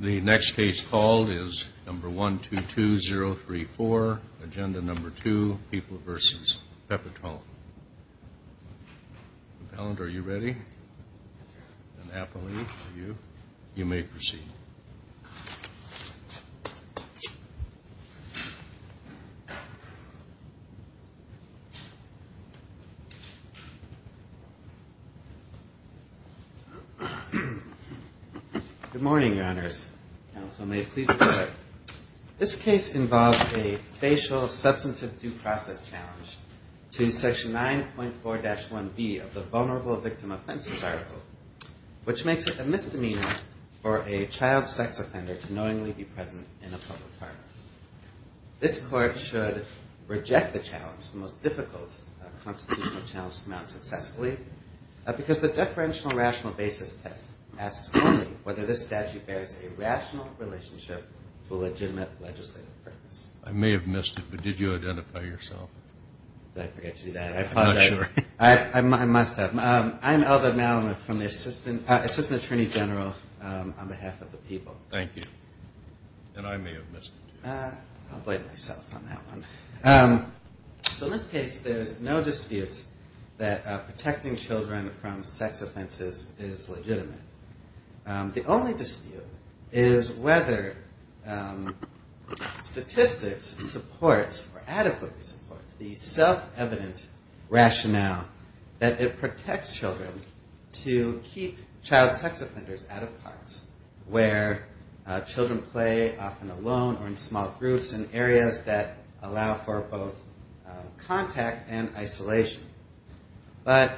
The next case called is number 122034, Agenda number 2, People v. Pepitone. Mr. Paland, are you ready? Yes, sir. And Appolini, are you? You may proceed. Good morning, Your Honors. Counsel may please be seated. This case involves a facial substantive due process challenge to Section 9.4-1B of the Vulnerable Victim Offenses article, which makes it a misdemeanor for a child sex offender to knowingly be present in a public parlor. This court should reject the challenge, the most difficult constitutional challenge to mount successfully, because the differential rational basis test asks only whether this statute bears a rational relationship to a legitimate legislative purpose. I may have missed it, but did you identify yourself? Did I forget to do that? I apologize. I'm not sure. I must have. I'm Elder Malamuth from the Assistant Attorney General on behalf of the people. Thank you. And I may have missed it. I'll blame myself on that one. So in this case, there's no dispute that protecting children from sex offenses is legitimate. The only dispute is whether statistics support or adequately support the self-evident rationale that it protects children to keep child sex offenders out of parks, where children play often alone or in small groups in areas that allow for both contact and isolation. But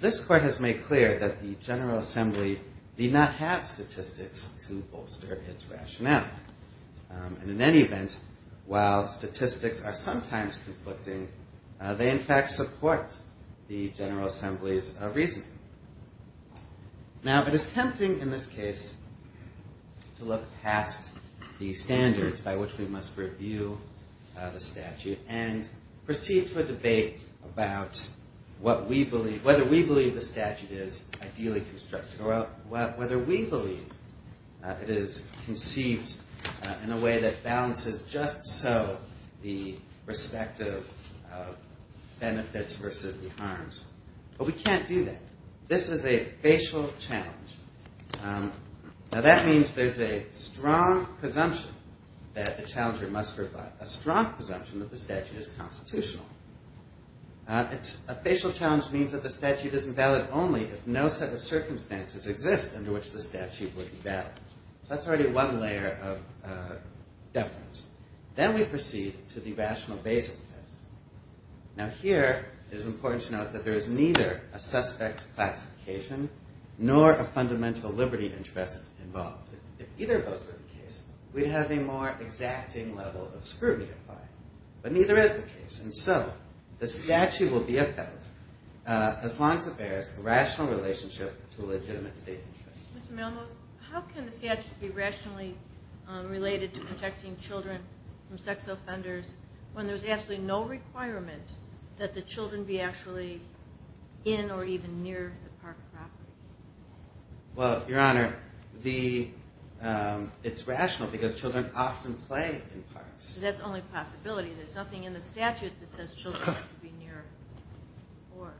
this court has made clear that the General Assembly need not have statistics to bolster its rationale. And in any event, while statistics are sometimes conflicting, they in fact support the General Assembly's reasoning. Now, it is tempting in this case to look past the standards by which we must review the statute and proceed to a debate about whether we believe the statute is ideally constructed or whether we believe it is conceived in a way that balances just so the respective benefits versus the harms. But we can't do that. This is a facial challenge. Now, that means there's a strong presumption that the challenger must rebut, a strong presumption that the statute is constitutional. A facial challenge means that the statute is invalid only if no set of circumstances exist under which the statute would be valid. So that's already one layer of deference. Then we proceed to the rational basis test. Now, here it is important to note that there is neither a suspect classification nor a fundamental liberty interest involved. If either of those were the case, we'd have a more exacting level of scrutiny applied. But neither is the case. And so the statute will be upheld as long as it bears a rational relationship to a legitimate state interest. Mr. Malmoth, how can the statute be rationally related to protecting children from sex offenders when there's absolutely no requirement that the children be actually in or even near the park property? Well, Your Honor, it's rational because children often play in parks. That's the only possibility. There's nothing in the statute that says children should be near or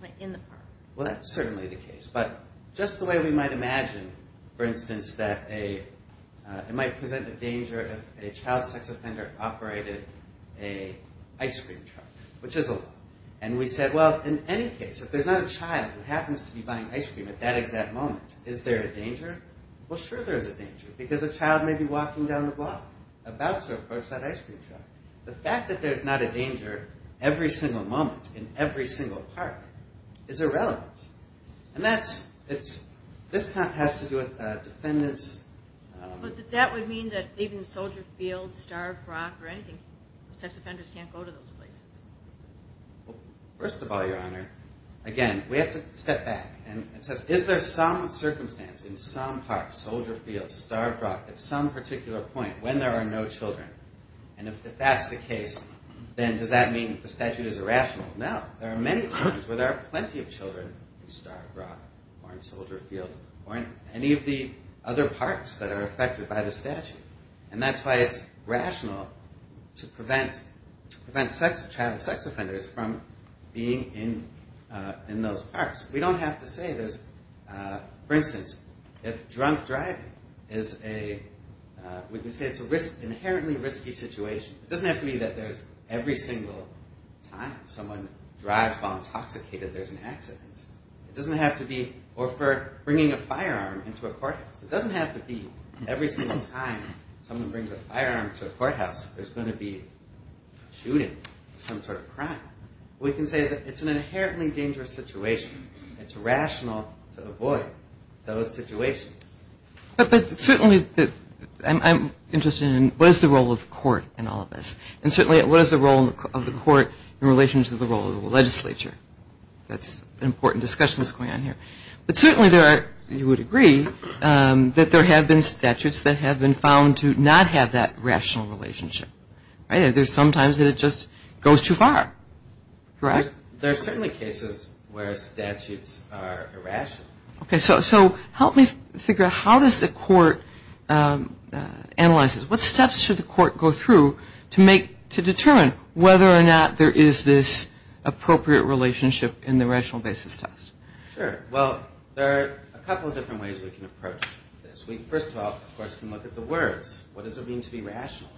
play in the park. Well, that's certainly the case. But just the way we might imagine, for instance, that it might present a danger if a child sex offender operated an ice cream truck, which is a law. And we said, well, in any case, if there's not a child who happens to be buying ice cream at that exact moment, is there a danger? Well, sure there is a danger because a child may be walking down the block about to approach that ice cream truck. The fact that there's not a danger every single moment in every single park is irrelevant. And this has to do with defendants. But that would mean that even Soldier Field, Starved Rock, or anything, sex offenders can't go to those places. Well, first of all, Your Honor, again, we have to step back. And it says, is there some circumstance in some park, Soldier Field, Starved Rock, at some particular point when there are no children? And if that's the case, then does that mean the statute is irrational? No. There are many places where there are plenty of children in Starved Rock or in Soldier Field or in any of the other parks that are affected by the statute. And that's why it's rational to prevent child sex offenders from being in those parks. We don't have to say there's, for instance, if drunk driving is a, we can say it's an inherently risky situation. It doesn't have to be that there's every single time someone drives while intoxicated, there's an accident. It doesn't have to be, or for bringing a firearm into a courthouse. It doesn't have to be every single time someone brings a firearm to a courthouse, there's going to be shooting, some sort of crime. We can say that it's an inherently dangerous situation. It's rational to avoid those situations. But certainly, I'm interested in what is the role of the court in all of this? And certainly, what is the role of the court in relation to the role of the legislature? That's an important discussion that's going on here. But certainly there are, you would agree, that there have been statutes that have been found to not have that rational relationship. Right? There's sometimes that it just goes too far. Correct? There are certainly cases where statutes are irrational. Okay. So help me figure out, how does the court analyze this? What steps should the court go through to determine whether or not there is this appropriate relationship in the rational basis test? Sure. Well, there are a couple of different ways we can approach this. We, first of all, of course, can look at the words. What does it mean to be rational?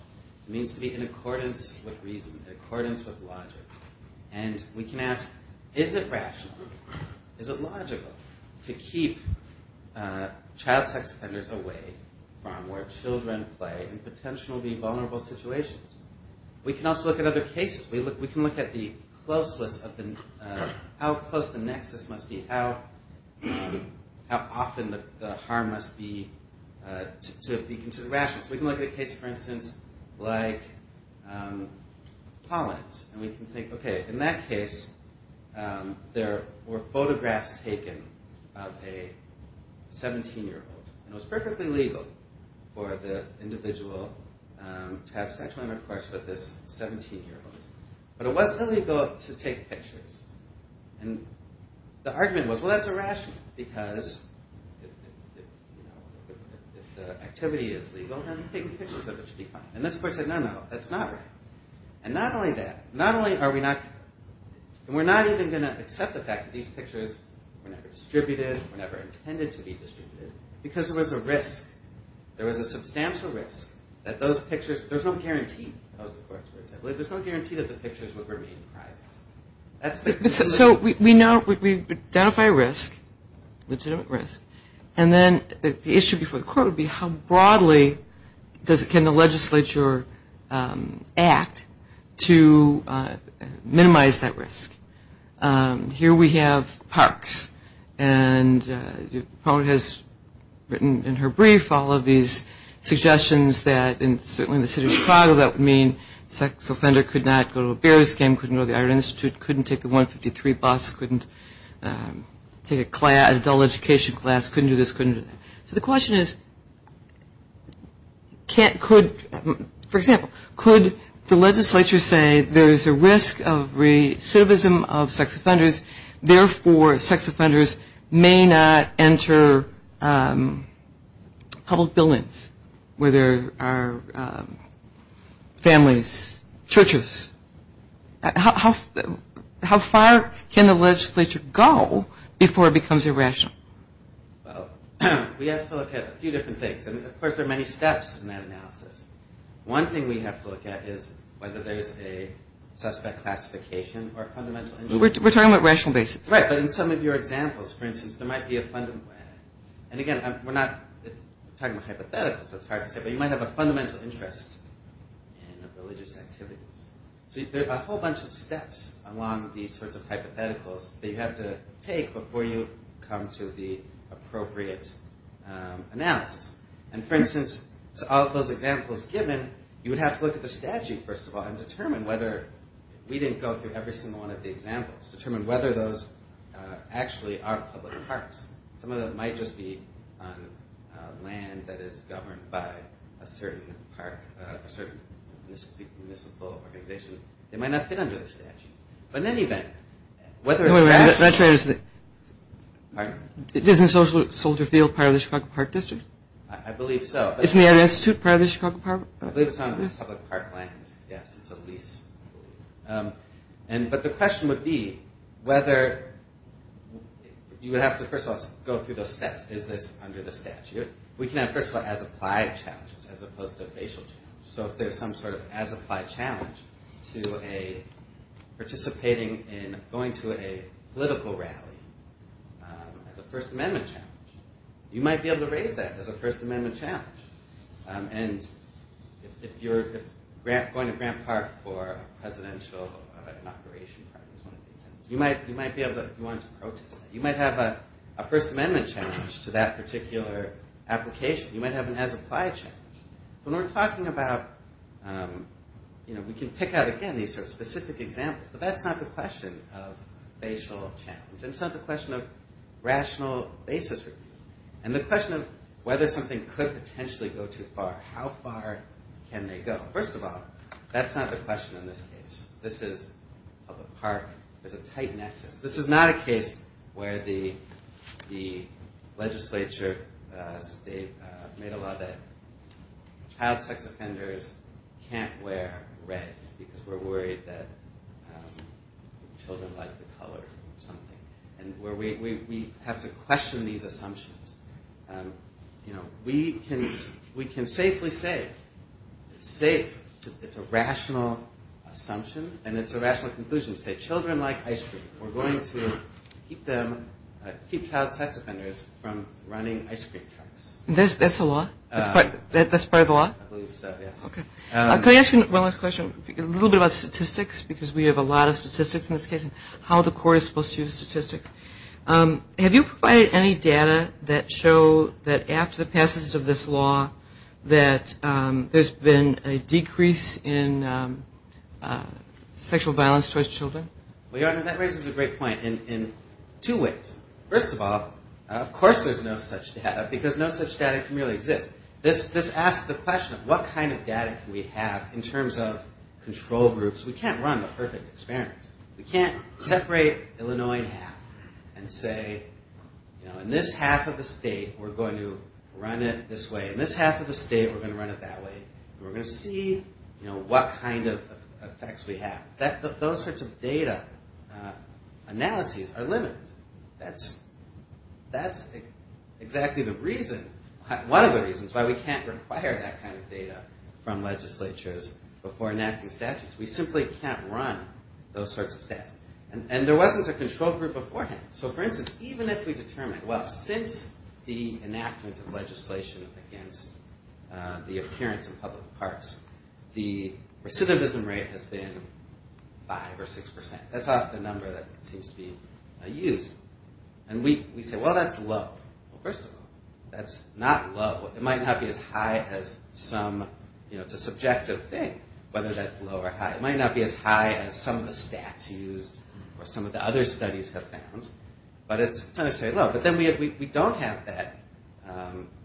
It means to be in accordance with reason, in accordance with logic. And we can ask, is it rational, is it logical, to keep child sex offenders away from where children play in potentially vulnerable situations? We can also look at other cases. We can look at the closeness of the, how close the nexus must be, how often the harm must be to the rational. We can look at a case, for instance, like Pollens. And we can think, okay, in that case, there were photographs taken of a 17-year-old. And it was perfectly legal for the individual to have sexual intercourse with this 17-year-old. But it wasn't illegal to take pictures. And the argument was, well, that's irrational, because if the activity is legal, then taking pictures of it should be fine. And this court said, no, no, that's not right. And not only that, not only are we not, and we're not even going to accept the fact that these pictures were never distributed, were never intended to be distributed, because there was a risk. There was a substantial risk that those pictures, there's no guarantee, that was the court's words. There's no guarantee that the pictures would remain private. So we know, we identify risk, legitimate risk. And then the issue before the court would be how broadly can the legislature act to minimize that risk. Here we have Parks. And Pollens has written in her brief all of these suggestions that, certainly in the city of Chicago, that would mean a sex offender could not go to a Bears game, couldn't go to the Art Institute, couldn't take the 153 bus, couldn't take an adult education class, couldn't do this, couldn't do that. So the question is, for example, could the legislature say there is a risk of recidivism of sex offenders, therefore sex offenders may not enter public buildings where there are families, churches. How far can the legislature go before it becomes irrational? Well, we have to look at a few different things. And, of course, there are many steps in that analysis. One thing we have to look at is whether there's a suspect classification or a fundamental interest. We're talking about rational basis. Right, but in some of your examples, for instance, there might be a fundamental interest. And, again, we're not talking about hypotheticals, so it's hard to say, but you might have a fundamental interest in religious activities. So there are a whole bunch of steps along these sorts of hypotheticals that you have to take before you come to the appropriate analysis. And, for instance, out of those examples given, you would have to look at the statute, first of all, and determine whether we didn't go through every single one of the examples, determine whether those actually are public parks. Some of them might just be on land that is governed by a certain park, a certain municipal organization. They might not fit under the statute. But, in any event, whether it's actually... Wait a minute. Isn't Soldier Field part of the Chicago Park District? I believe so. Isn't the Art Institute part of the Chicago Park? I believe it's on public park land. Yes, it's a lease. But the question would be whether... You would have to, first of all, go through those steps. Is this under the statute? We can have, first of all, as-applied challenges as opposed to facial challenges. So if there's some sort of as-applied challenge to participating in going to a political rally as a First Amendment challenge, you might be able to raise that as a First Amendment challenge. And if you're going to Grant Park for a presidential inauguration, you might be able to protest that. You might have a First Amendment challenge to that particular application. You might have an as-applied challenge. So when we're talking about... We can pick out, again, these specific examples. But that's not the question of facial challenge. And it's not the question of rational basis review. And the question of whether something could potentially go too far. How far can they go? First of all, that's not the question in this case. This is public park. There's a tight nexus. This is not a case where the legislature made a law that child sex offenders can't wear red because we're worried that children like the color or something. We have to question these assumptions. We can safely say it's a rational assumption and it's a rational conclusion to say children like ice cream. We're going to keep child sex offenders from running ice cream trucks. That's the law? That's part of the law? I believe so, yes. Okay. Can I ask you one last question? A little bit about statistics because we have a lot of statistics in this case and how the court is supposed to use statistics. Have you provided any data that show that after the passage of this law, that there's been a decrease in sexual violence towards children? Well, Your Honor, that raises a great point in two ways. First of all, of course there's no such data because no such data can really exist. This asks the question of what kind of data can we have in terms of control groups. We can't run the perfect experiment. We can't separate Illinois in half and say in this half of the state we're going to run it this way. In this half of the state we're going to run it that way. We're going to see what kind of effects we have. Those sorts of data analyses are limited. That's exactly one of the reasons why we can't require that kind of data from legislatures before enacting statutes. We simply can't run those sorts of stats. And there wasn't a control group beforehand. So, for instance, even if we determined, well, since the enactment of legislation against the appearance of public parks, the recidivism rate has been 5 or 6%. That's not the number that seems to be used. And we say, well, that's low. Well, first of all, that's not low. It might not be as high as some, you know, it's a subjective thing, whether that's low or high. It might not be as high as some of the stats used or some of the other studies have found. But it's not necessarily low. But then we don't have that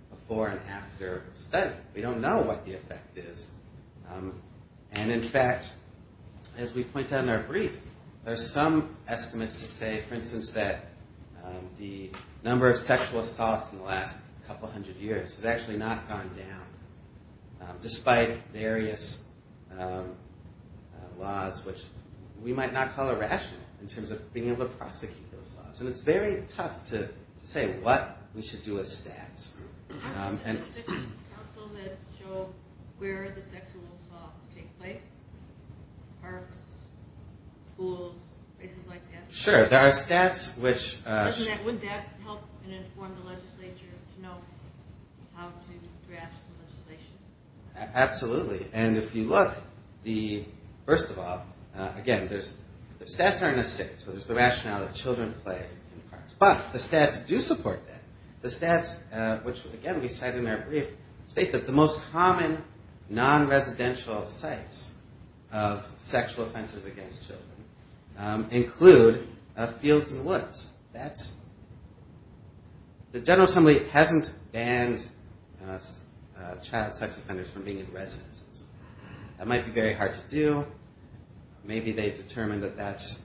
before and after study. We don't know what the effect is. And, in fact, as we point out in our brief, there's some estimates to say, for instance, that the number of sexual assaults in the last couple hundred years has actually not gone down, despite various laws, which we might not call irrational in terms of being able to prosecute those laws. And it's very tough to say what we should do with stats. Do you have statistics in the council that show where the sexual assaults take place? Parks, schools, places like that? Sure. There are stats which... Absolutely. And if you look, first of all, again, the stats aren't as safe. So there's the rationale that children play in parks. But the stats do support that. The stats, which, again, we cite in our brief, state that the most common non-residential sites of sexual offenses against children include fields and woods. The General Assembly hasn't banned child sex offenders from being in residences. That might be very hard to do. Maybe they've determined that that's...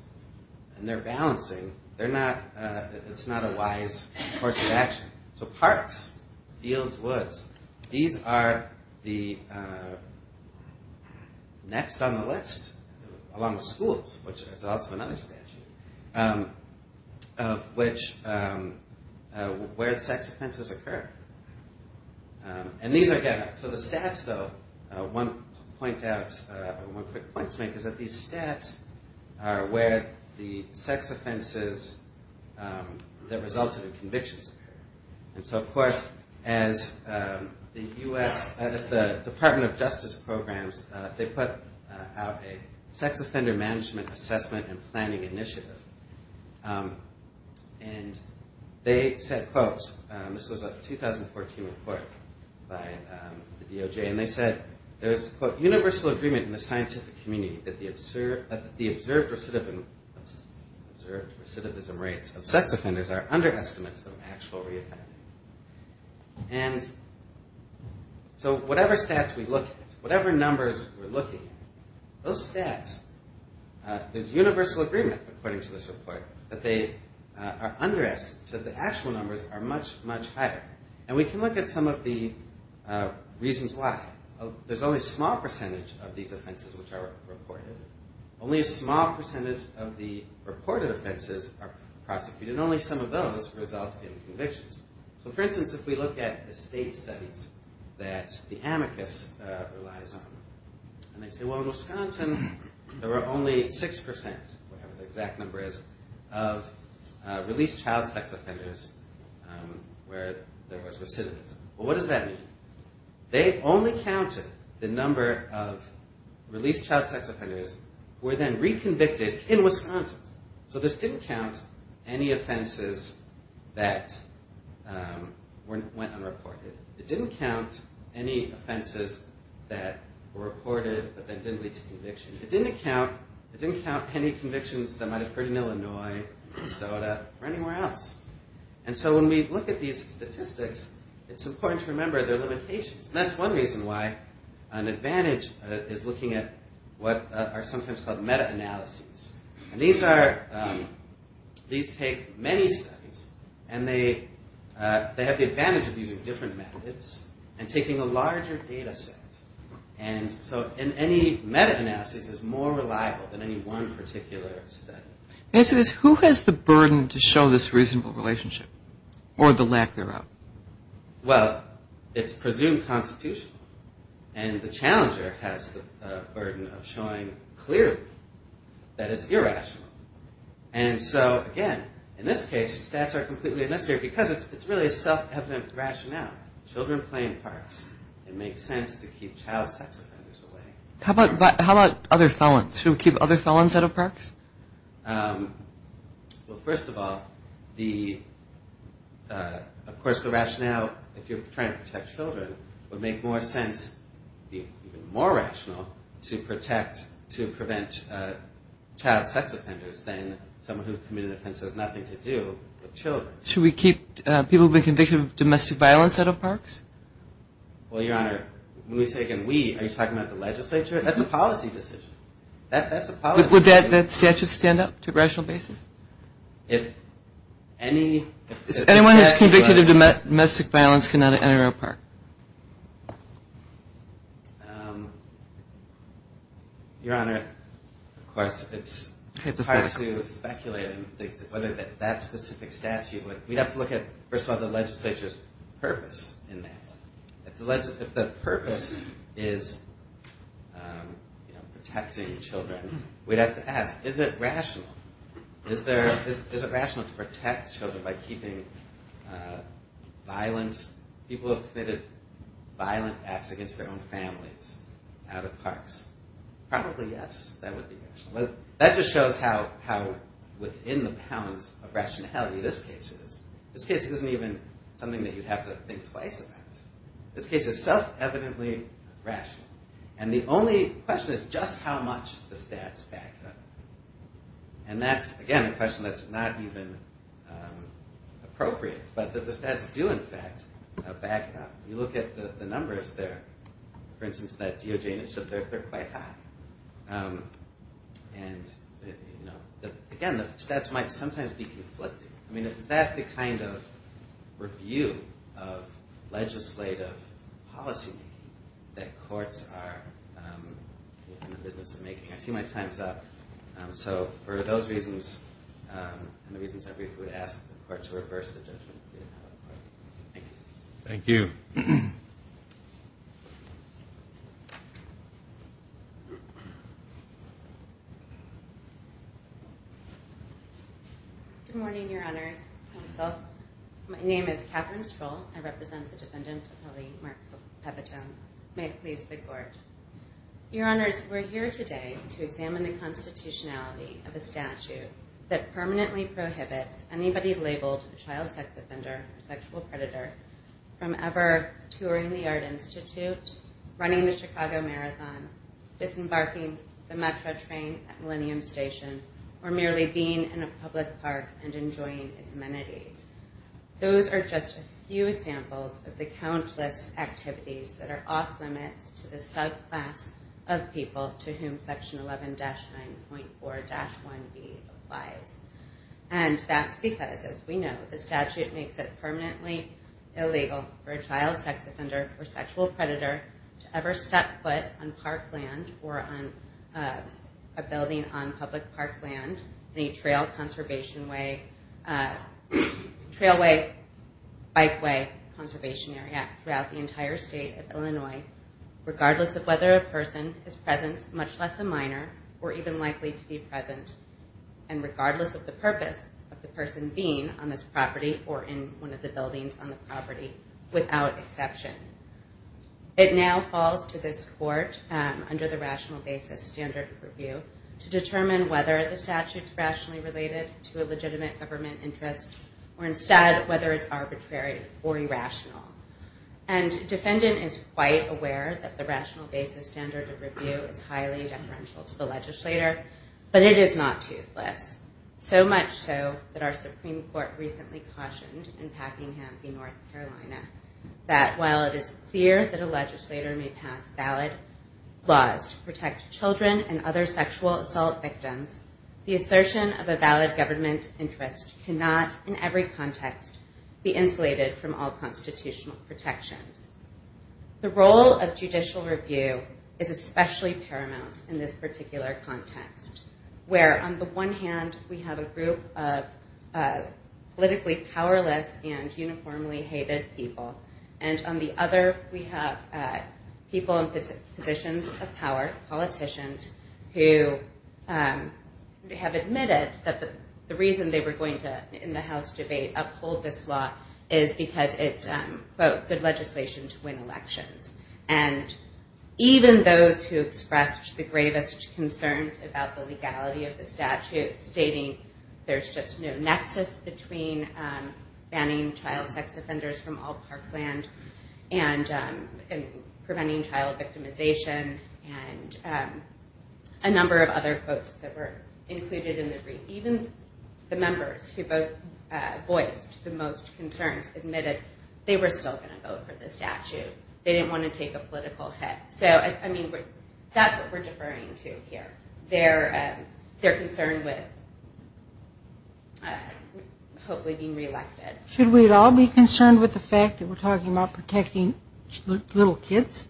And they're balancing. It's not a wise course of action. So parks, fields, woods. These are the next on the list, along with schools, which is also another statute. Of which... Where sex offenses occur. And these are... So the stats, though, one point to make is that these stats are where the sex offenses that resulted in convictions occur. And so, of course, as the U.S., as the Department of Justice programs, they put out a sex offender management assessment and planning initiative. And they said, quote... This was a 2014 report by the DOJ. And they said there's, quote, universal agreement in the scientific community that the observed recidivism rates of sex offenders are under estimates of actual reoffending. And so whatever stats we look at, whatever numbers we're looking at, those stats, there's universal agreement, according to this report, that they are under estimates, that the actual numbers are much, much higher. And we can look at some of the reasons why. There's only a small percentage of these offenses which are reported. Only a small percentage of the reported offenses are prosecuted. And only some of those result in convictions. So, for instance, if we look at the state studies that the amicus relies on, and they say, well, in Wisconsin, there were only 6%, whatever the exact number is, of released child sex offenders where there was recidivism. Well, what does that mean? They only counted the number of released child sex offenders who were then reconvicted in Wisconsin. So this didn't count any offenses that went unreported. It didn't count any offenses that were reported but then didn't lead to conviction. It didn't count any convictions that might have occurred in Illinois, Minnesota, or anywhere else. And so when we look at these statistics, it's important to remember their limitations. And that's one reason why an advantage is looking at what are sometimes called meta-analyses. And these take many studies, and they have the advantage of using different methods and taking a larger data set. And so any meta-analysis is more reliable than any one particular study. My question is, who has the burden to show this reasonable relationship or the lack thereof? Well, it's presumed constitutional, and the challenger has the burden of showing clearly that it's irrational. And so, again, in this case, stats are completely unnecessary because it's really a self-evident rationale. Children play in parks. It makes sense to keep child sex offenders away. How about other felons? Should we keep other felons out of parks? Well, first of all, of course the rationale, if you're trying to protect children, would make more sense, even more rational, to protect, to prevent child sex offenders than someone who has committed an offense that has nothing to do with children. Should we keep people who have been convicted of domestic violence out of parks? Well, Your Honor, when we say, again, we, are you talking about the legislature? That's a policy decision. That's a policy decision. Would that statute stand up to rational basis? If anyone is convicted of domestic violence cannot enter a park. Your Honor, of course, it's hard to speculate whether that specific statute, we'd have to look at, first of all, the legislature's purpose in that. If the purpose is protecting children, we'd have to ask, is it rational? Is it rational to protect children by keeping violent, people who have committed violent acts against their own families, out of parks? Probably yes, that would be rational. That just shows how within the pounds of rationality this case is. This case isn't even something that you'd have to think twice about. This case is self-evidently rational. And the only question is just how much the stats back up. And that's, again, a question that's not even appropriate. But the stats do, in fact, back up. You look at the numbers there. For instance, that DOJ initiative, they're quite high. And, you know, again, the stats might sometimes be conflicting. I mean, is that the kind of review of legislative policy that courts are in the business of making? I see my time's up. So for those reasons and the reasons I briefly would ask the court to reverse the judgment. Thank you. Thank you. Good morning, Your Honors. Counsel. My name is Catherine Stroll. I represent the Defendant, Mark Pepitone. May it please the Court. Your Honors, we're here today to examine the constitutionality of a statute that permanently prohibits anybody labeled a child sex offender or sexual predator from ever touring the Art Institute, running the Chicago Marathon, disembarking the Metra train at Millennium Station, or merely being in a public park and enjoying its amenities. Those are just a few examples of the countless activities that are off-limits to the subclass of people to whom Section 11-9.4-1b applies. And that's because, as we know, the statute makes it permanently illegal for a child sex offender or sexual predator to ever step foot on park land or on a building on public park land, any trailway, bikeway conservation area throughout the entire state of Illinois, regardless of whether a person is present, much less a minor, or even likely to be present, and regardless of the purpose of the person being on this property or in one of the buildings on the property, without exception. It now falls to this Court, under the Rational Basis Standard of Review, to determine whether the statute's rationally related to a legitimate government interest or instead whether it's arbitrary or irrational. And Defendant is quite aware that the Rational Basis Standard of Review is highly deferential to the legislator, but it is not toothless, so much so that our Supreme Court recently cautioned in Packingham v. North Carolina that while it is clear that a legislator may pass valid laws to protect children and other sexual assault victims, the assertion of a valid government interest cannot, in every context, be insulated from all constitutional protections. The role of judicial review is especially paramount in this particular context, where on the one hand, we have a group of politically powerless and uniformly hated people, and on the other, we have people in positions of power, politicians, who have admitted that the reason they were going to, in the House debate, uphold this law is because it's, quote, good legislation to win elections. And even those who expressed the gravest concerns about the legality of the statute, stating there's just no nexus between banning child sex offenders from all parkland and preventing child victimization and a number of other quotes that were included in the brief, even the members who both voiced the most concerns admitted they were still going to vote for the statute. They didn't want to take a political hit. So, I mean, that's what we're deferring to here. They're concerned with hopefully being reelected. Should we all be concerned with the fact that we're talking about protecting little kids?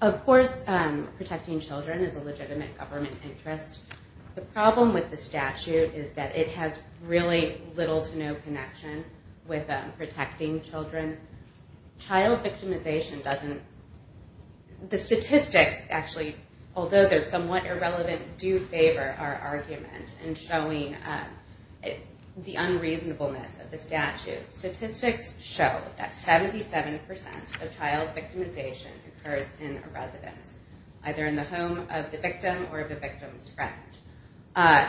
Of course protecting children is a legitimate government interest. The problem with the statute is that it has really little to no connection with protecting children. Child victimization doesn't, the statistics actually, although they're somewhat irrelevant, do favor our argument in showing the unreasonableness of the statute. Statistics show that 77% of child victimization occurs in a residence, either in the home of the victim or of the victim's friend.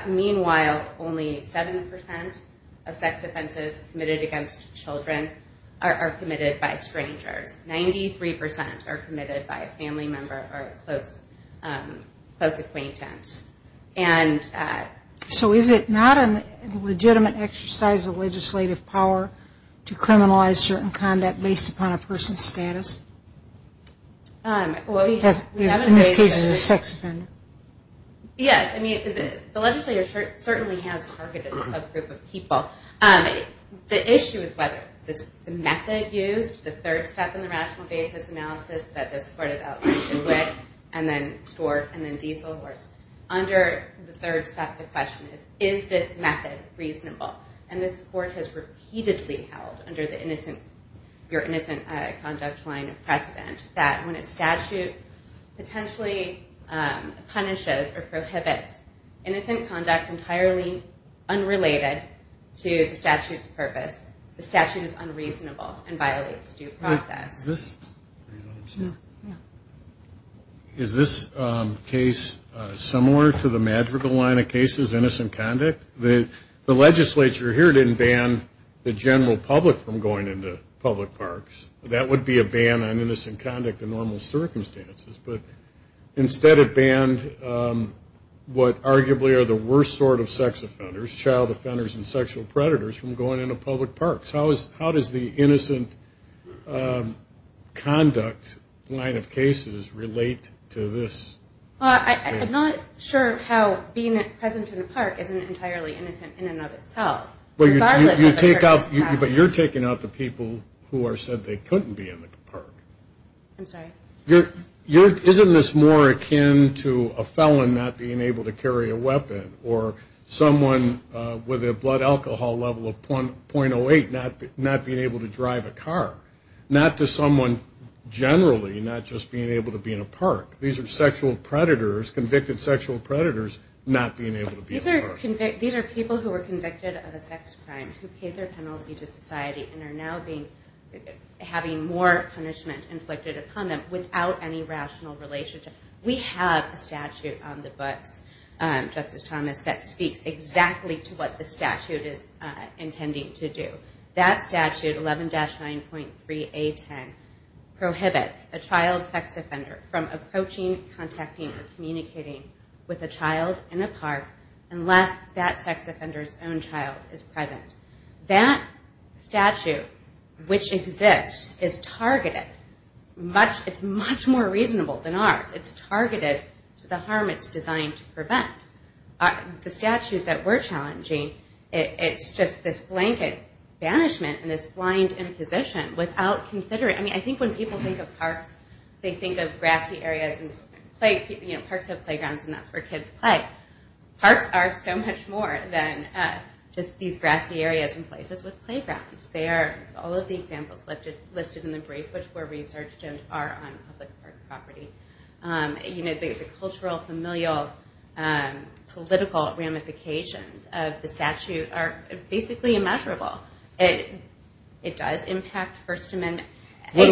Meanwhile, only 7% of sex offenses committed against children are committed by strangers. 93% are committed by a family member or a close acquaintance. So is it not a legitimate exercise of legislative power to criminalize certain conduct based upon a person's status? In this case, it's a sex offender. Yes, I mean, the legislature certainly has targeted a subgroup of people. The issue is whether the method used, the third step in the rational basis analysis that this court is outlined with, and then Stork and then Dieselhorst. Under the third step, the question is, is this method reasonable? And this court has repeatedly held, under your innocent conduct line of precedent, that when a statute potentially punishes or prohibits innocent conduct entirely unrelated to the statute's purpose, the statute is unreasonable and violates due process. Is this case similar to the Madrigal line of cases, innocent conduct? The legislature here didn't ban the general public from going into public parks. That would be a ban on innocent conduct in normal circumstances. But instead it banned what arguably are the worst sort of sex offenders, child offenders and sexual predators, from going into public parks. How does the innocent conduct line of cases relate to this? I'm not sure how being present in a park isn't entirely innocent in and of itself. But you're taking out the people who are said they couldn't be in the park. I'm sorry? Isn't this more akin to a felon not being able to carry a weapon or someone with a blood alcohol level of .08 not being able to drive a car? Not to someone generally not just being able to be in a park. These are sexual predators, convicted sexual predators not being able to be in a park. These are people who were convicted of a sex crime who paid their penalty to society and are now having more punishment inflicted upon them without any rational relationship. We have a statute on the books, Justice Thomas, that speaks exactly to what the statute is intending to do. That statute, 11-9.3A10, prohibits a child sex offender from approaching, contacting or communicating with a child in a park unless that sex offender's own child is present. That statute, which exists, is targeted. It's much more reasonable than ours. It's targeted to the harm it's designed to prevent. The statute that we're challenging, it's just this blanket banishment and this blind imposition without considering. I think when people think of parks, they think of grassy areas. Parks have playgrounds and that's where kids play. Parks are so much more than just these grassy areas and places with playgrounds. They are all of the examples listed in the brief which were researched and are on public park property. The cultural, familial, political ramifications of the statute are basically immeasurable. It does impact First Amendment. What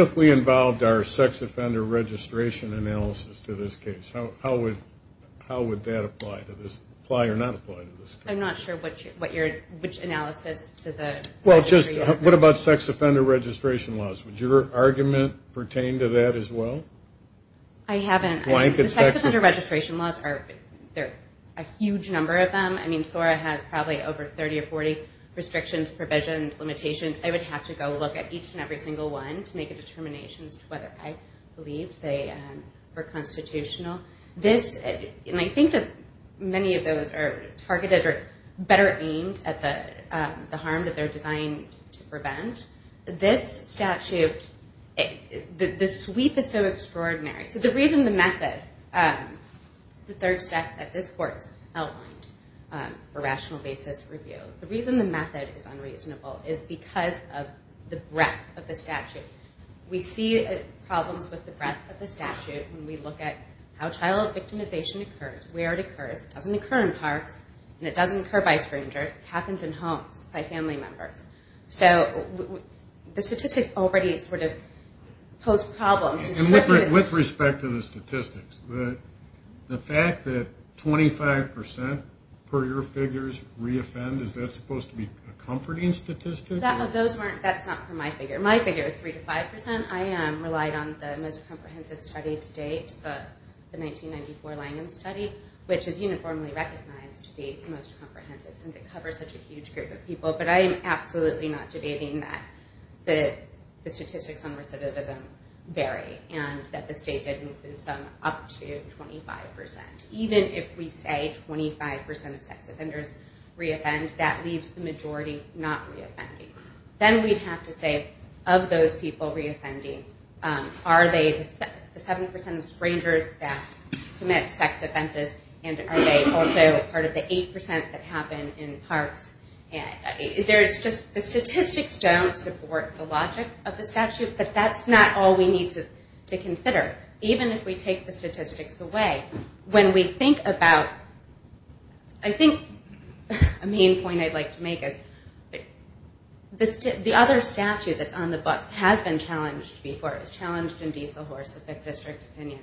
if we involved our sex offender registration analysis to this case? How would that apply or not apply to this case? I'm not sure which analysis to the registry. What about sex offender registration laws? Would your argument pertain to that as well? I haven't. The sex offender registration laws, there are a huge number of them. I mean, SORA has probably over 30 or 40 restrictions, provisions, limitations. I would have to go look at each and every single one to make a determination as to whether I believe they are constitutional. I think that many of those are targeted or better aimed at the harm that they're designed to prevent. This statute, the sweep is so extraordinary. The reason the method, the third step that this court outlined for rational basis review, the reason the method is unreasonable is because of the breadth of the statute. We see problems with the breadth of the statute when we look at how child victimization occurs, where it occurs. It doesn't occur in parks and it doesn't occur by strangers. It happens in homes by family members. So the statistics already sort of pose problems. With respect to the statistics, the fact that 25% per year figures re-offend, is that supposed to be a comforting statistic? That's not for my figure. My figure is 3 to 5%. I relied on the most comprehensive study to date, the 1994 Langham study, which is uniformly recognized to be the most comprehensive since it covers such a huge group of people. But I am absolutely not debating that the statistics on recidivism vary and that the state did move them up to 25%. Even if we say 25% of sex offenders re-offend, that leaves the majority not re-offending. Then we'd have to say, of those people re-offending, are they the 7% of strangers that commit sex offenses and are they also part of the 8% that happen in parks? The statistics don't support the logic of the statute, but that's not all we need to consider. Even if we take the statistics away, when we think about... I think a main point I'd like to make is the other statute that's on the books has been challenged before. It was challenged in Diesel Horse, the 5th District opinion.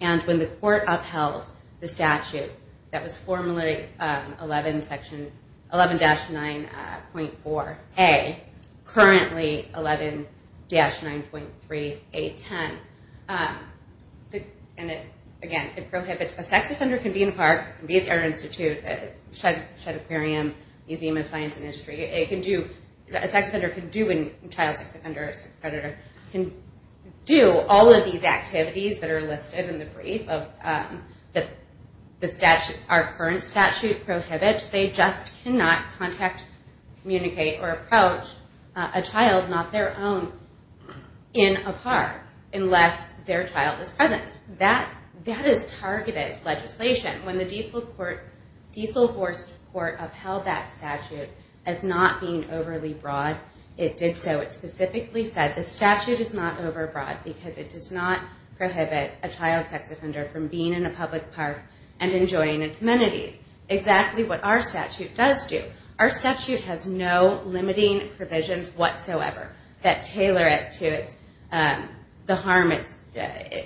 And when the court upheld the statute that was formerly 11-9.4A, currently 11-9.3A10, and again, it prohibits... A sex offender can be in a park, can be at the Art Institute, Shedd Aquarium, Museum of Science and Industry. A sex offender can do... A child sex offender or sex predator can do all of these activities that are listed in the brief that our current statute prohibits. They just cannot contact, communicate, or approach a child, not their own, in a park unless their child is present. That is targeted legislation. When the Diesel Horse Court upheld that statute as not being overly broad, it did so. It specifically said the statute is not overbroad because it does not prohibit a child sex offender from being in a public park and enjoying its amenities, exactly what our statute does do. Our statute has no limiting provisions whatsoever that tailor it to the harm it's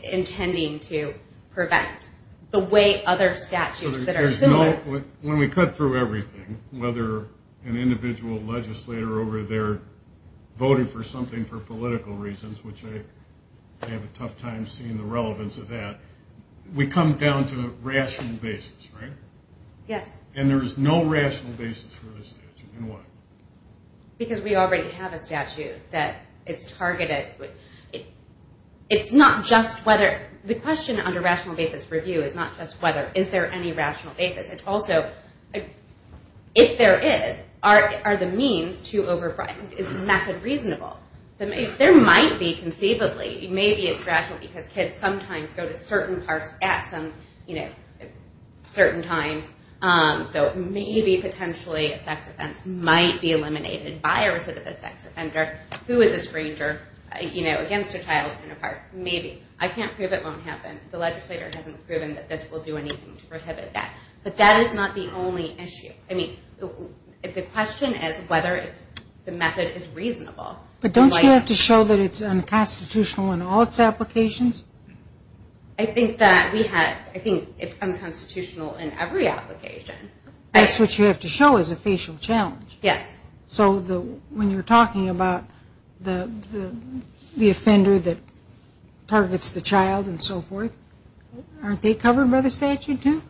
intending to prevent the way other statutes that are similar... When we cut through everything, whether an individual legislator over there voting for something for political reasons, which I have a tough time seeing the relevance of that, we come down to rational basis, right? Yes. And there is no rational basis for this statute. And why? Because we already have a statute that is targeted. It's not just whether... The question under rational basis review is not just whether is there any rational basis. It's also if there is, are the means too overbroad? Is the method reasonable? There might be conceivably. Maybe it's rational because kids sometimes go to certain parks at certain times, so maybe potentially a sex offense might be eliminated by a recidivist sex offender who is a stranger against a child in a park. Maybe. I can't prove it won't happen. The legislator hasn't proven that this will do anything to prohibit that. But that is not the only issue. I mean, the question is whether the method is reasonable. But don't you have to show that it's unconstitutional in all its applications? I think it's unconstitutional in every application. That's what you have to show is a facial challenge. Yes. So when you're talking about the offender that targets the child and so forth, aren't they covered by the statute too?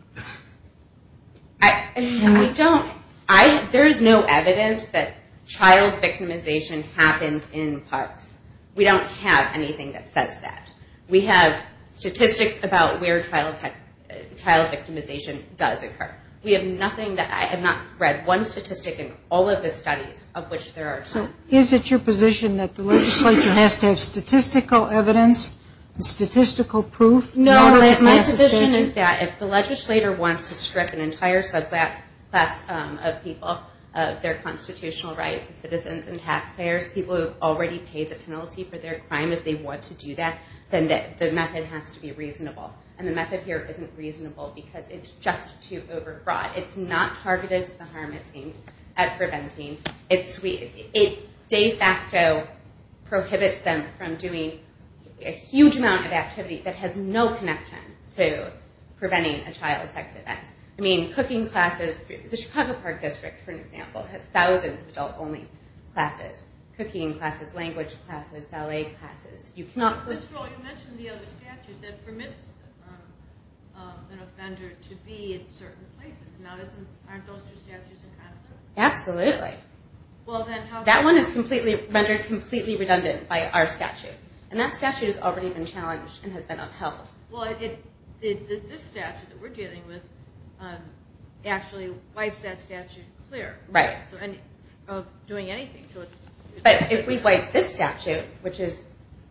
I don't. There is no evidence that child victimization happens in parks. We don't have anything that says that. We have statistics about where child victimization does occur. We have nothing. I have not read one statistic in all of the studies of which there are some. So is it your position that the legislature has to have statistical evidence and statistical proof? No. My position is that if the legislator wants to strip an entire subclass of people of their constitutional rights as citizens and taxpayers, people who have already paid the penalty for their crime, if they want to do that, then the method has to be reasonable. And the method here isn't reasonable because it's just too overbroad. It's not targeted to the harm it's aimed at preventing. It de facto prohibits them from doing a huge amount of activity that has no connection to preventing a child sex event. I mean, cooking classes. The Chicago Park District, for example, has thousands of adult-only classes, cooking classes, language classes, ballet classes. You cannot put... Ms. Stroh, you mentioned the other statute that permits an offender to be in certain places. Now, aren't those two statutes kind of the same? Absolutely. That one is rendered completely redundant by our statute, and that statute has already been challenged and has been upheld. Well, this statute that we're dealing with actually wipes that statute clear of doing anything. But if we wipe this statute, which is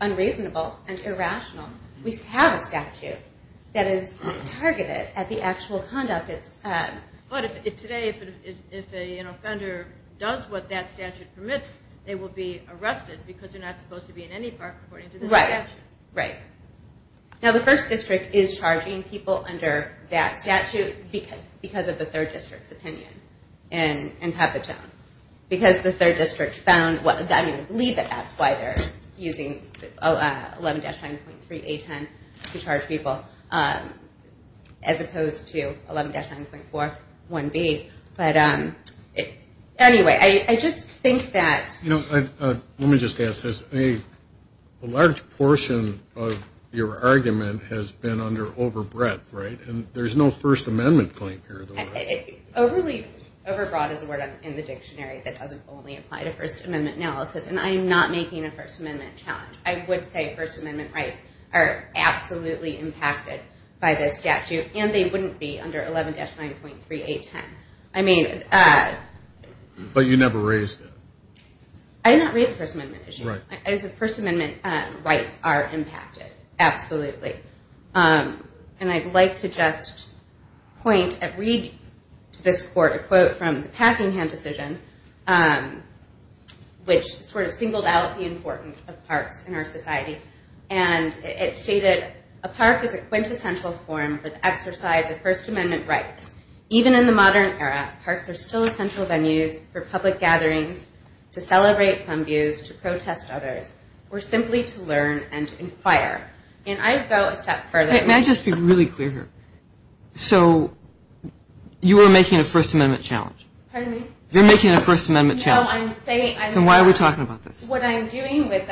unreasonable and irrational, we have a statute that is targeted at the actual conduct it's... But today, if an offender does what that statute permits, they will be arrested because they're not supposed to be in any park according to this statute. Right, right. Now, the First District is charging people under that statute because of the Third District's opinion in Papatone. Because the Third District found... I mean, I believe it asked why they're using 11-9.3A10 to charge people as opposed to 11-9.4 1B. But anyway, I just think that... Let me just ask this. A large portion of your argument has been under overbreadth, right? And there's no First Amendment claim here. Overbroad is a word in the dictionary that doesn't only apply to First Amendment analysis, and I am not making a First Amendment challenge. I would say First Amendment rights are absolutely impacted by this statute, and they wouldn't be under 11-9.3A10. I mean... But you never raised it. I did not raise a First Amendment issue. First Amendment rights are impacted, absolutely. And I'd like to just point and read to this court a quote from the Packingham decision, which sort of singled out the importance of parks in our society. And it stated, A park is a quintessential form of exercise of First Amendment rights. Even in the modern era, parks are still essential venues for public gatherings, to celebrate some views, to protest others, or simply to learn and inquire. And I'd go a step further. May I just be really clear here? So you are making a First Amendment challenge? Pardon me? You're making a First Amendment challenge. No, I'm saying... Then why are we talking about this? What I'm doing with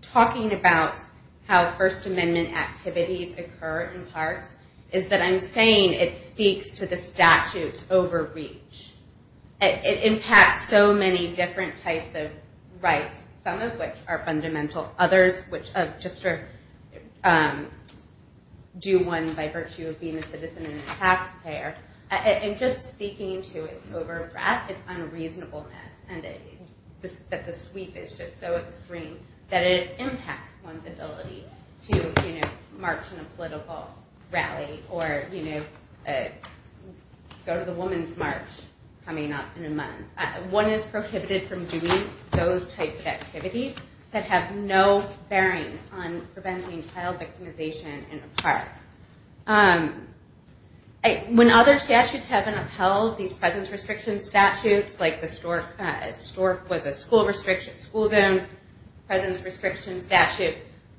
talking about how First Amendment activities occur in parks is that I'm saying it speaks to the statute's overreach. It impacts so many different types of rights, some of which are fundamental, others which just are due one by virtue of being a citizen and a taxpayer. And just speaking to its over-breath, its unreasonableness, and that the sweep is just so extreme, that it impacts one's ability to march in a political rally or go to the Women's March coming up in a month. One is prohibited from doing those types of activities When other statutes have been upheld, these presence restriction statutes, like the Stork was a school zone presence restriction statute,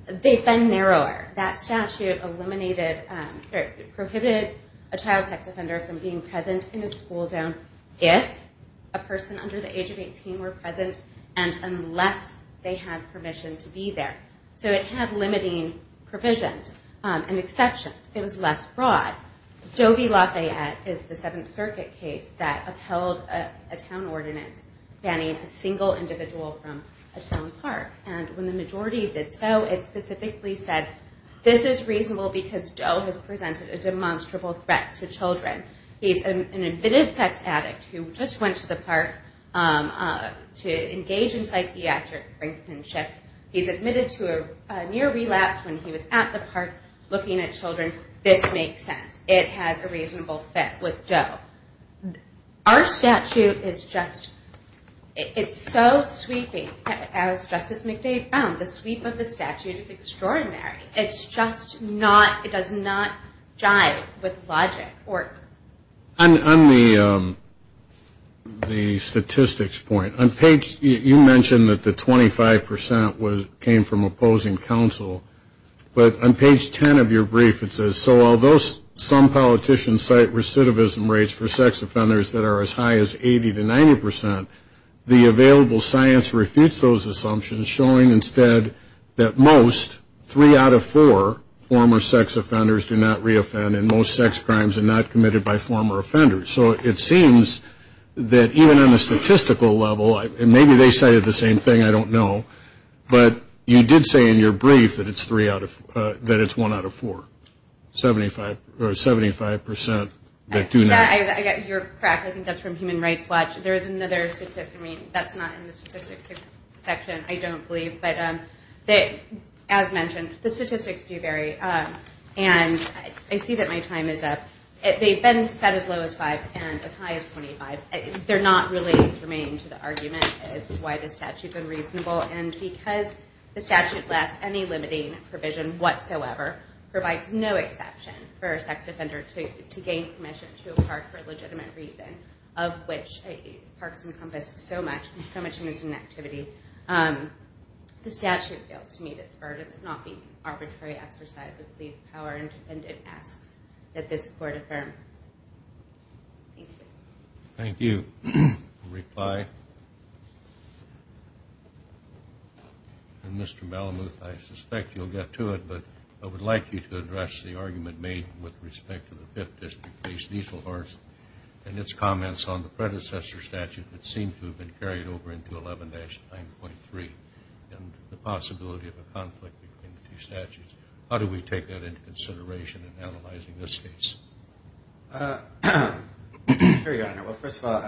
they've been narrower. That statute prohibited a child sex offender from being present in a school zone if a person under the age of 18 were present, and unless they had permission to be there. So it had limiting provisions and exceptions. It was less broad. Doe v. Lafayette is the Seventh Circuit case that upheld a town ordinance banning a single individual from a town park. And when the majority did so, it specifically said, this is reasonable because Doe has presented a demonstrable threat to children. He's an admitted sex addict who just went to the park to engage in psychiatric brinkmanship. He's admitted to a near relapse when he was at the park looking at children. This makes sense. It has a reasonable fit with Doe. Our statute is just, it's so sweeping. As Justice McDade found, the sweep of the statute is extraordinary. It's just not, it does not jive with logic. On the statistics point, you mentioned that the 25 percent came from opposing counsel. But on page 10 of your brief it says, so although some politicians cite recidivism rates for sex offenders that are as high as 80 to 90 percent, the available science refutes those assumptions, showing instead that most, three out of four former sex offenders do not reoffend, and most sex crimes are not committed by former offenders. So it seems that even on the statistical level, and maybe they cited the same thing, I don't know, but you did say in your brief that it's one out of four, 75 percent that do not. I got your crack. I think that's from Human Rights Watch. There is another, I mean, that's not in the statistics section, I don't believe. But as mentioned, the statistics do vary. And I see that my time is up. They've been set as low as five and as high as 25. They're not really germane to the argument as to why the statute's unreasonable. And because the statute lacks any limiting provision whatsoever, provides no exception for a sex offender to gain permission to park for a legitimate reason, of which parks encompass so much and so much is an activity, the statute fails to meet its burden of not being an arbitrary exercise of police power and it asks that this court affirm. Thank you. Thank you. A reply? Mr. Malamuth, I suspect you'll get to it, but I would like you to address the argument made with respect to the Fifth District-based easel horse and its comments on the predecessor statute that seem to have been carried over into 11-9.3 and the possibility of a conflict between the two statutes. How do we take that into consideration in analyzing this case? Sure, Your Honor. Well, first of all,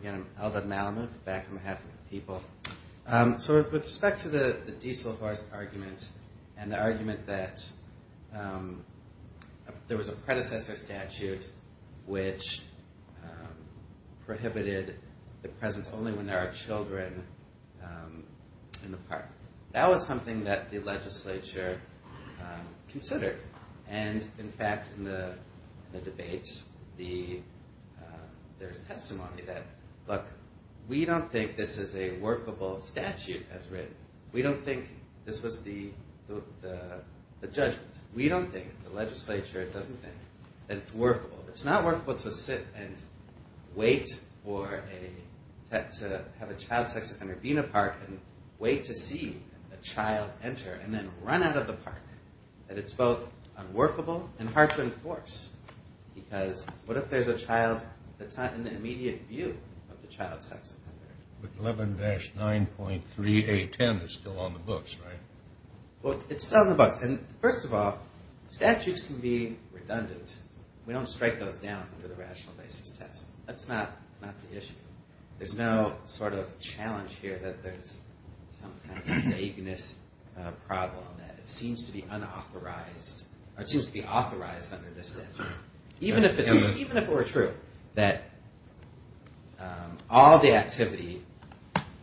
again, I'm Alden Malamuth, back on behalf of the people. So with respect to the easel horse argument and the argument that there was a predecessor statute which prohibited the presence only when there are children in the park, that was something that the legislature considered. And, in fact, in the debates, there's testimony that, look, we don't think this is a workable statute as written. We don't think this was the judgment. We don't think, the legislature doesn't think, that it's workable. It's not workable to sit and wait to have a child sex offender be in a park and wait to see a child enter and then run out of the park, that it's both unworkable and hard to enforce because what if there's a child that's not in the immediate view of the child sex offender? But 11-9.3A10 is still on the books, right? Well, it's still on the books. And, first of all, statutes can be redundant. We don't strike those down under the rational basis test. That's not the issue. There's no sort of challenge here that there's some kind of vagueness problem that it seems to be unauthorized, or it seems to be authorized under this statute. Even if it were true that all the activity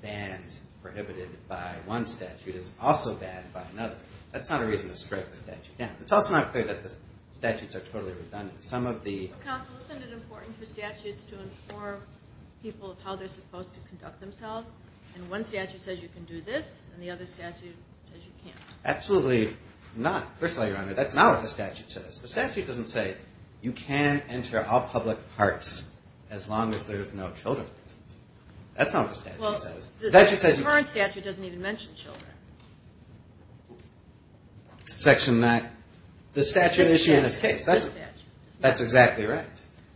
banned, prohibited by one statute, is also banned by another, that's not a reason to strike the statute down. It's also not clear that the statutes are totally redundant. Counsel, isn't it important for statutes to inform people of how they're supposed to conduct themselves? And one statute says you can do this, and the other statute says you can't. Absolutely not. First of all, Your Honor, that's not what the statute says. The statute doesn't say you can enter all public parks as long as there's no children. That's not what the statute says. The current statute doesn't even mention children. Section 9? The statute issued in this case. That's exactly right.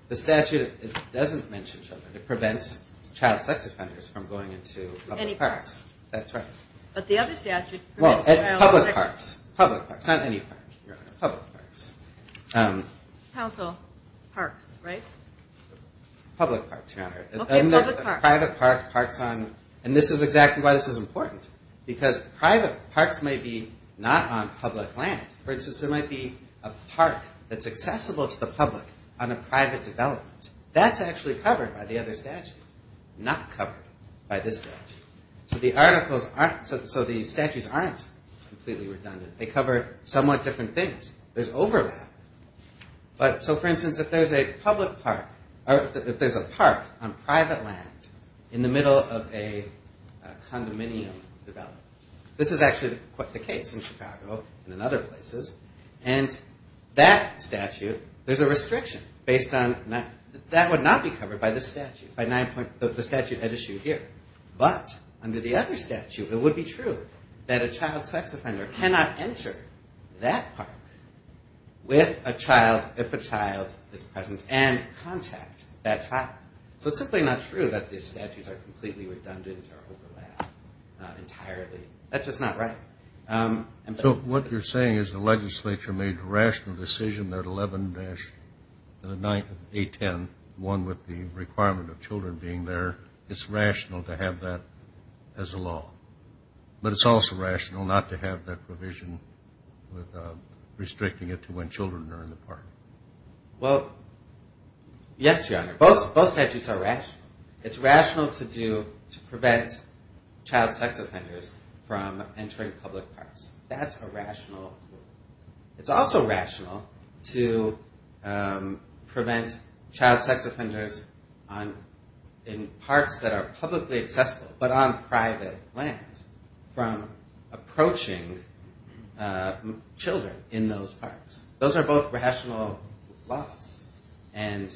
The statute doesn't mention children. It prevents child sex offenders from going into public parks. Any parks. That's right. But the other statute prevents child sex offenders. Public parks. Public parks. Not any park, Your Honor. Public parks. Counsel, parks, right? Public parks, Your Honor. Okay, public parks. Private parks, parks on, and this is exactly why this is important, because private parks might be not on public land. For instance, there might be a park that's accessible to the public on a private development. That's actually covered by the other statute, not covered by this statute. So the statutes aren't completely redundant. They cover somewhat different things. There's overlap. So, for instance, if there's a park on private land in the middle of a condominium development, this is actually the case in Chicago and in other places, and that statute, there's a restriction based on that. That would not be covered by this statute. The statute had issued here. But under the other statute, it would be true that a child sex offender cannot enter that park with a child if a child is present and contact that child. So it's simply not true that these statutes are completely redundant or overlap entirely. That's just not right. So what you're saying is the legislature made a rational decision there at 11-810, one with the requirement of children being there. It's rational to have that as a law. But it's also rational not to have that provision with restricting it to when children are in the park. Well, yes, Your Honor. Both statutes are rational. It's rational to prevent child sex offenders from entering public parks. That's a rational rule. It's also rational to prevent child sex offenders in parks that are publicly accessible, but on private land, from approaching children in those parks. Those are both rational laws, and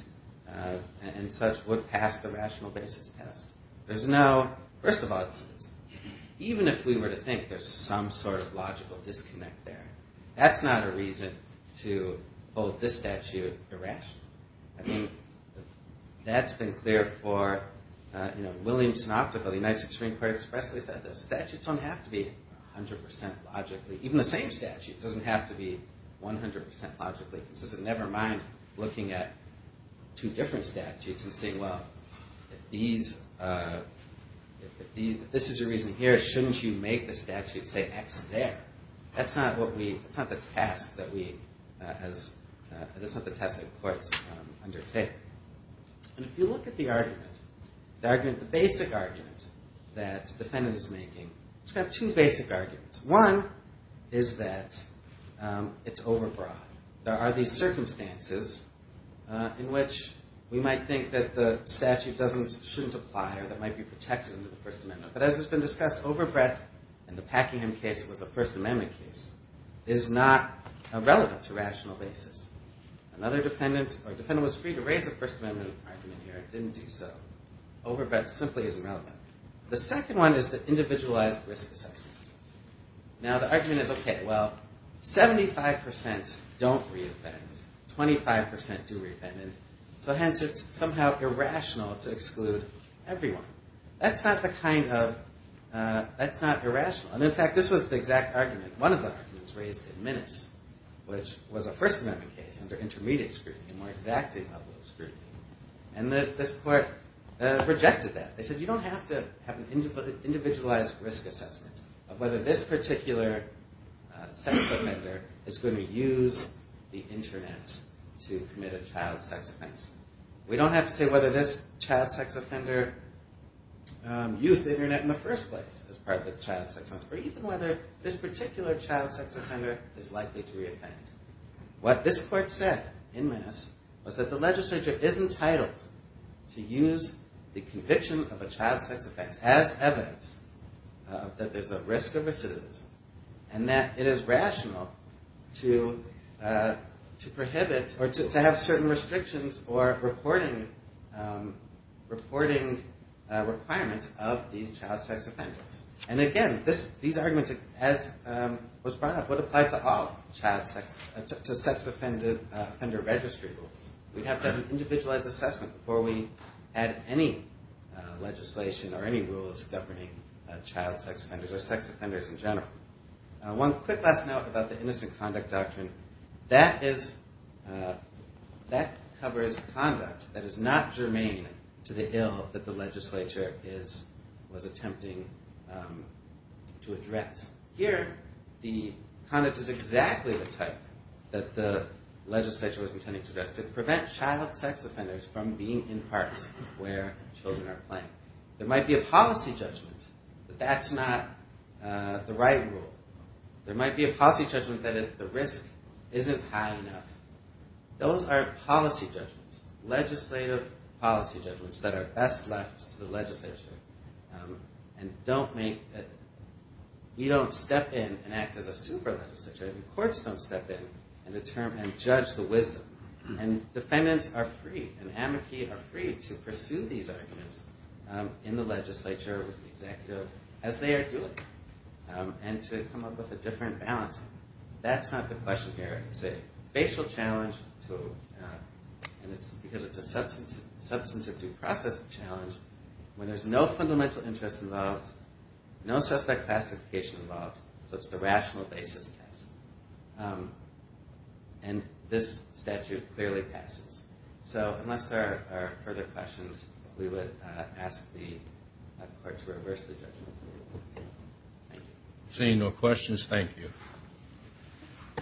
such would pass the rational basis test. First of all, even if we were to think there's some sort of logical disconnect there, that's not a reason to hold this statute irrational. I mean, that's been clear for Williamson Optical. The United States Supreme Court expressly said the statutes don't have to be 100% logically. Even the same statute doesn't have to be 100% logically consistent. So never mind looking at two different statutes and saying, well, if this is the reason here, shouldn't you make the statute say X there? That's not the task that courts undertake. And if you look at the argument, the basic argument that the defendant is making, it's kind of two basic arguments. One is that it's overbroad. There are these circumstances in which we might think that the statute shouldn't apply or that it might be protected under the First Amendment. But as has been discussed, overbreadth, and the Packingham case was a First Amendment case, is not relevant to rational basis. Another defendant was free to raise a First Amendment argument here and didn't do so. Overbreadth simply isn't relevant. The second one is the individualized risk assessment. Now, the argument is, OK, well, 75% don't re-offend. 25% do re-offend. So hence, it's somehow irrational to exclude everyone. That's not the kind of irrational. And in fact, this was the exact argument. One of the arguments raised in Minnis, which was a First Amendment case under intermediate scrutiny, a more exacting level of scrutiny. And this court rejected that. They said, you don't have to have an individualized risk assessment of whether this particular sex offender is going to use the Internet to commit a child sex offense. We don't have to say whether this child sex offender used the Internet in the first place as part of the child sex offense, or even whether this particular child sex offender is likely to re-offend. What this court said in Minnis was that the legislature is entitled to use the conviction of a child sex offense as evidence that there's a risk of recidivism, and that it is rational to prohibit or to have certain restrictions or reporting requirements of these child sex offenders. And again, these arguments, as was brought up, would apply to all sex offender registry rules. We have to have an individualized assessment before we add any legislation or any rules governing child sex offenders or sex offenders in general. One quick last note about the innocent conduct doctrine. That covers conduct that is not germane to the ill that the legislature was attempting to address. Here, the conduct is exactly the type that the legislature was intending to address. To prevent child sex offenders from being in parks where children are playing. There might be a policy judgment that that's not the right rule. There might be a policy judgment that the risk isn't high enough. Those are policy judgments, legislative policy judgments, that are best left to the legislature. We don't step in and act as a super legislature. Courts don't step in and judge the wisdom. And defendants are free, and amici are free, to pursue these arguments in the legislature, with the executive, as they are doing. And to come up with a different balance. That's not the question here. It's a facial challenge to, and it's because it's a substantive due process challenge, when there's no fundamental interest involved, no suspect classification involved. So it's the rational basis test. And this statute clearly passes. So, unless there are further questions, we would ask the court to reverse the judgment. Thank you. Seeing no questions, thank you.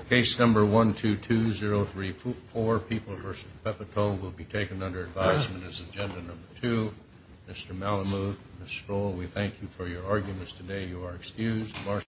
Case number 122034, People v. Pepitone, will be taken under advisement as agenda number two. Mr. Malamud, Ms. Stroll, we thank you for your arguments today. You are excused.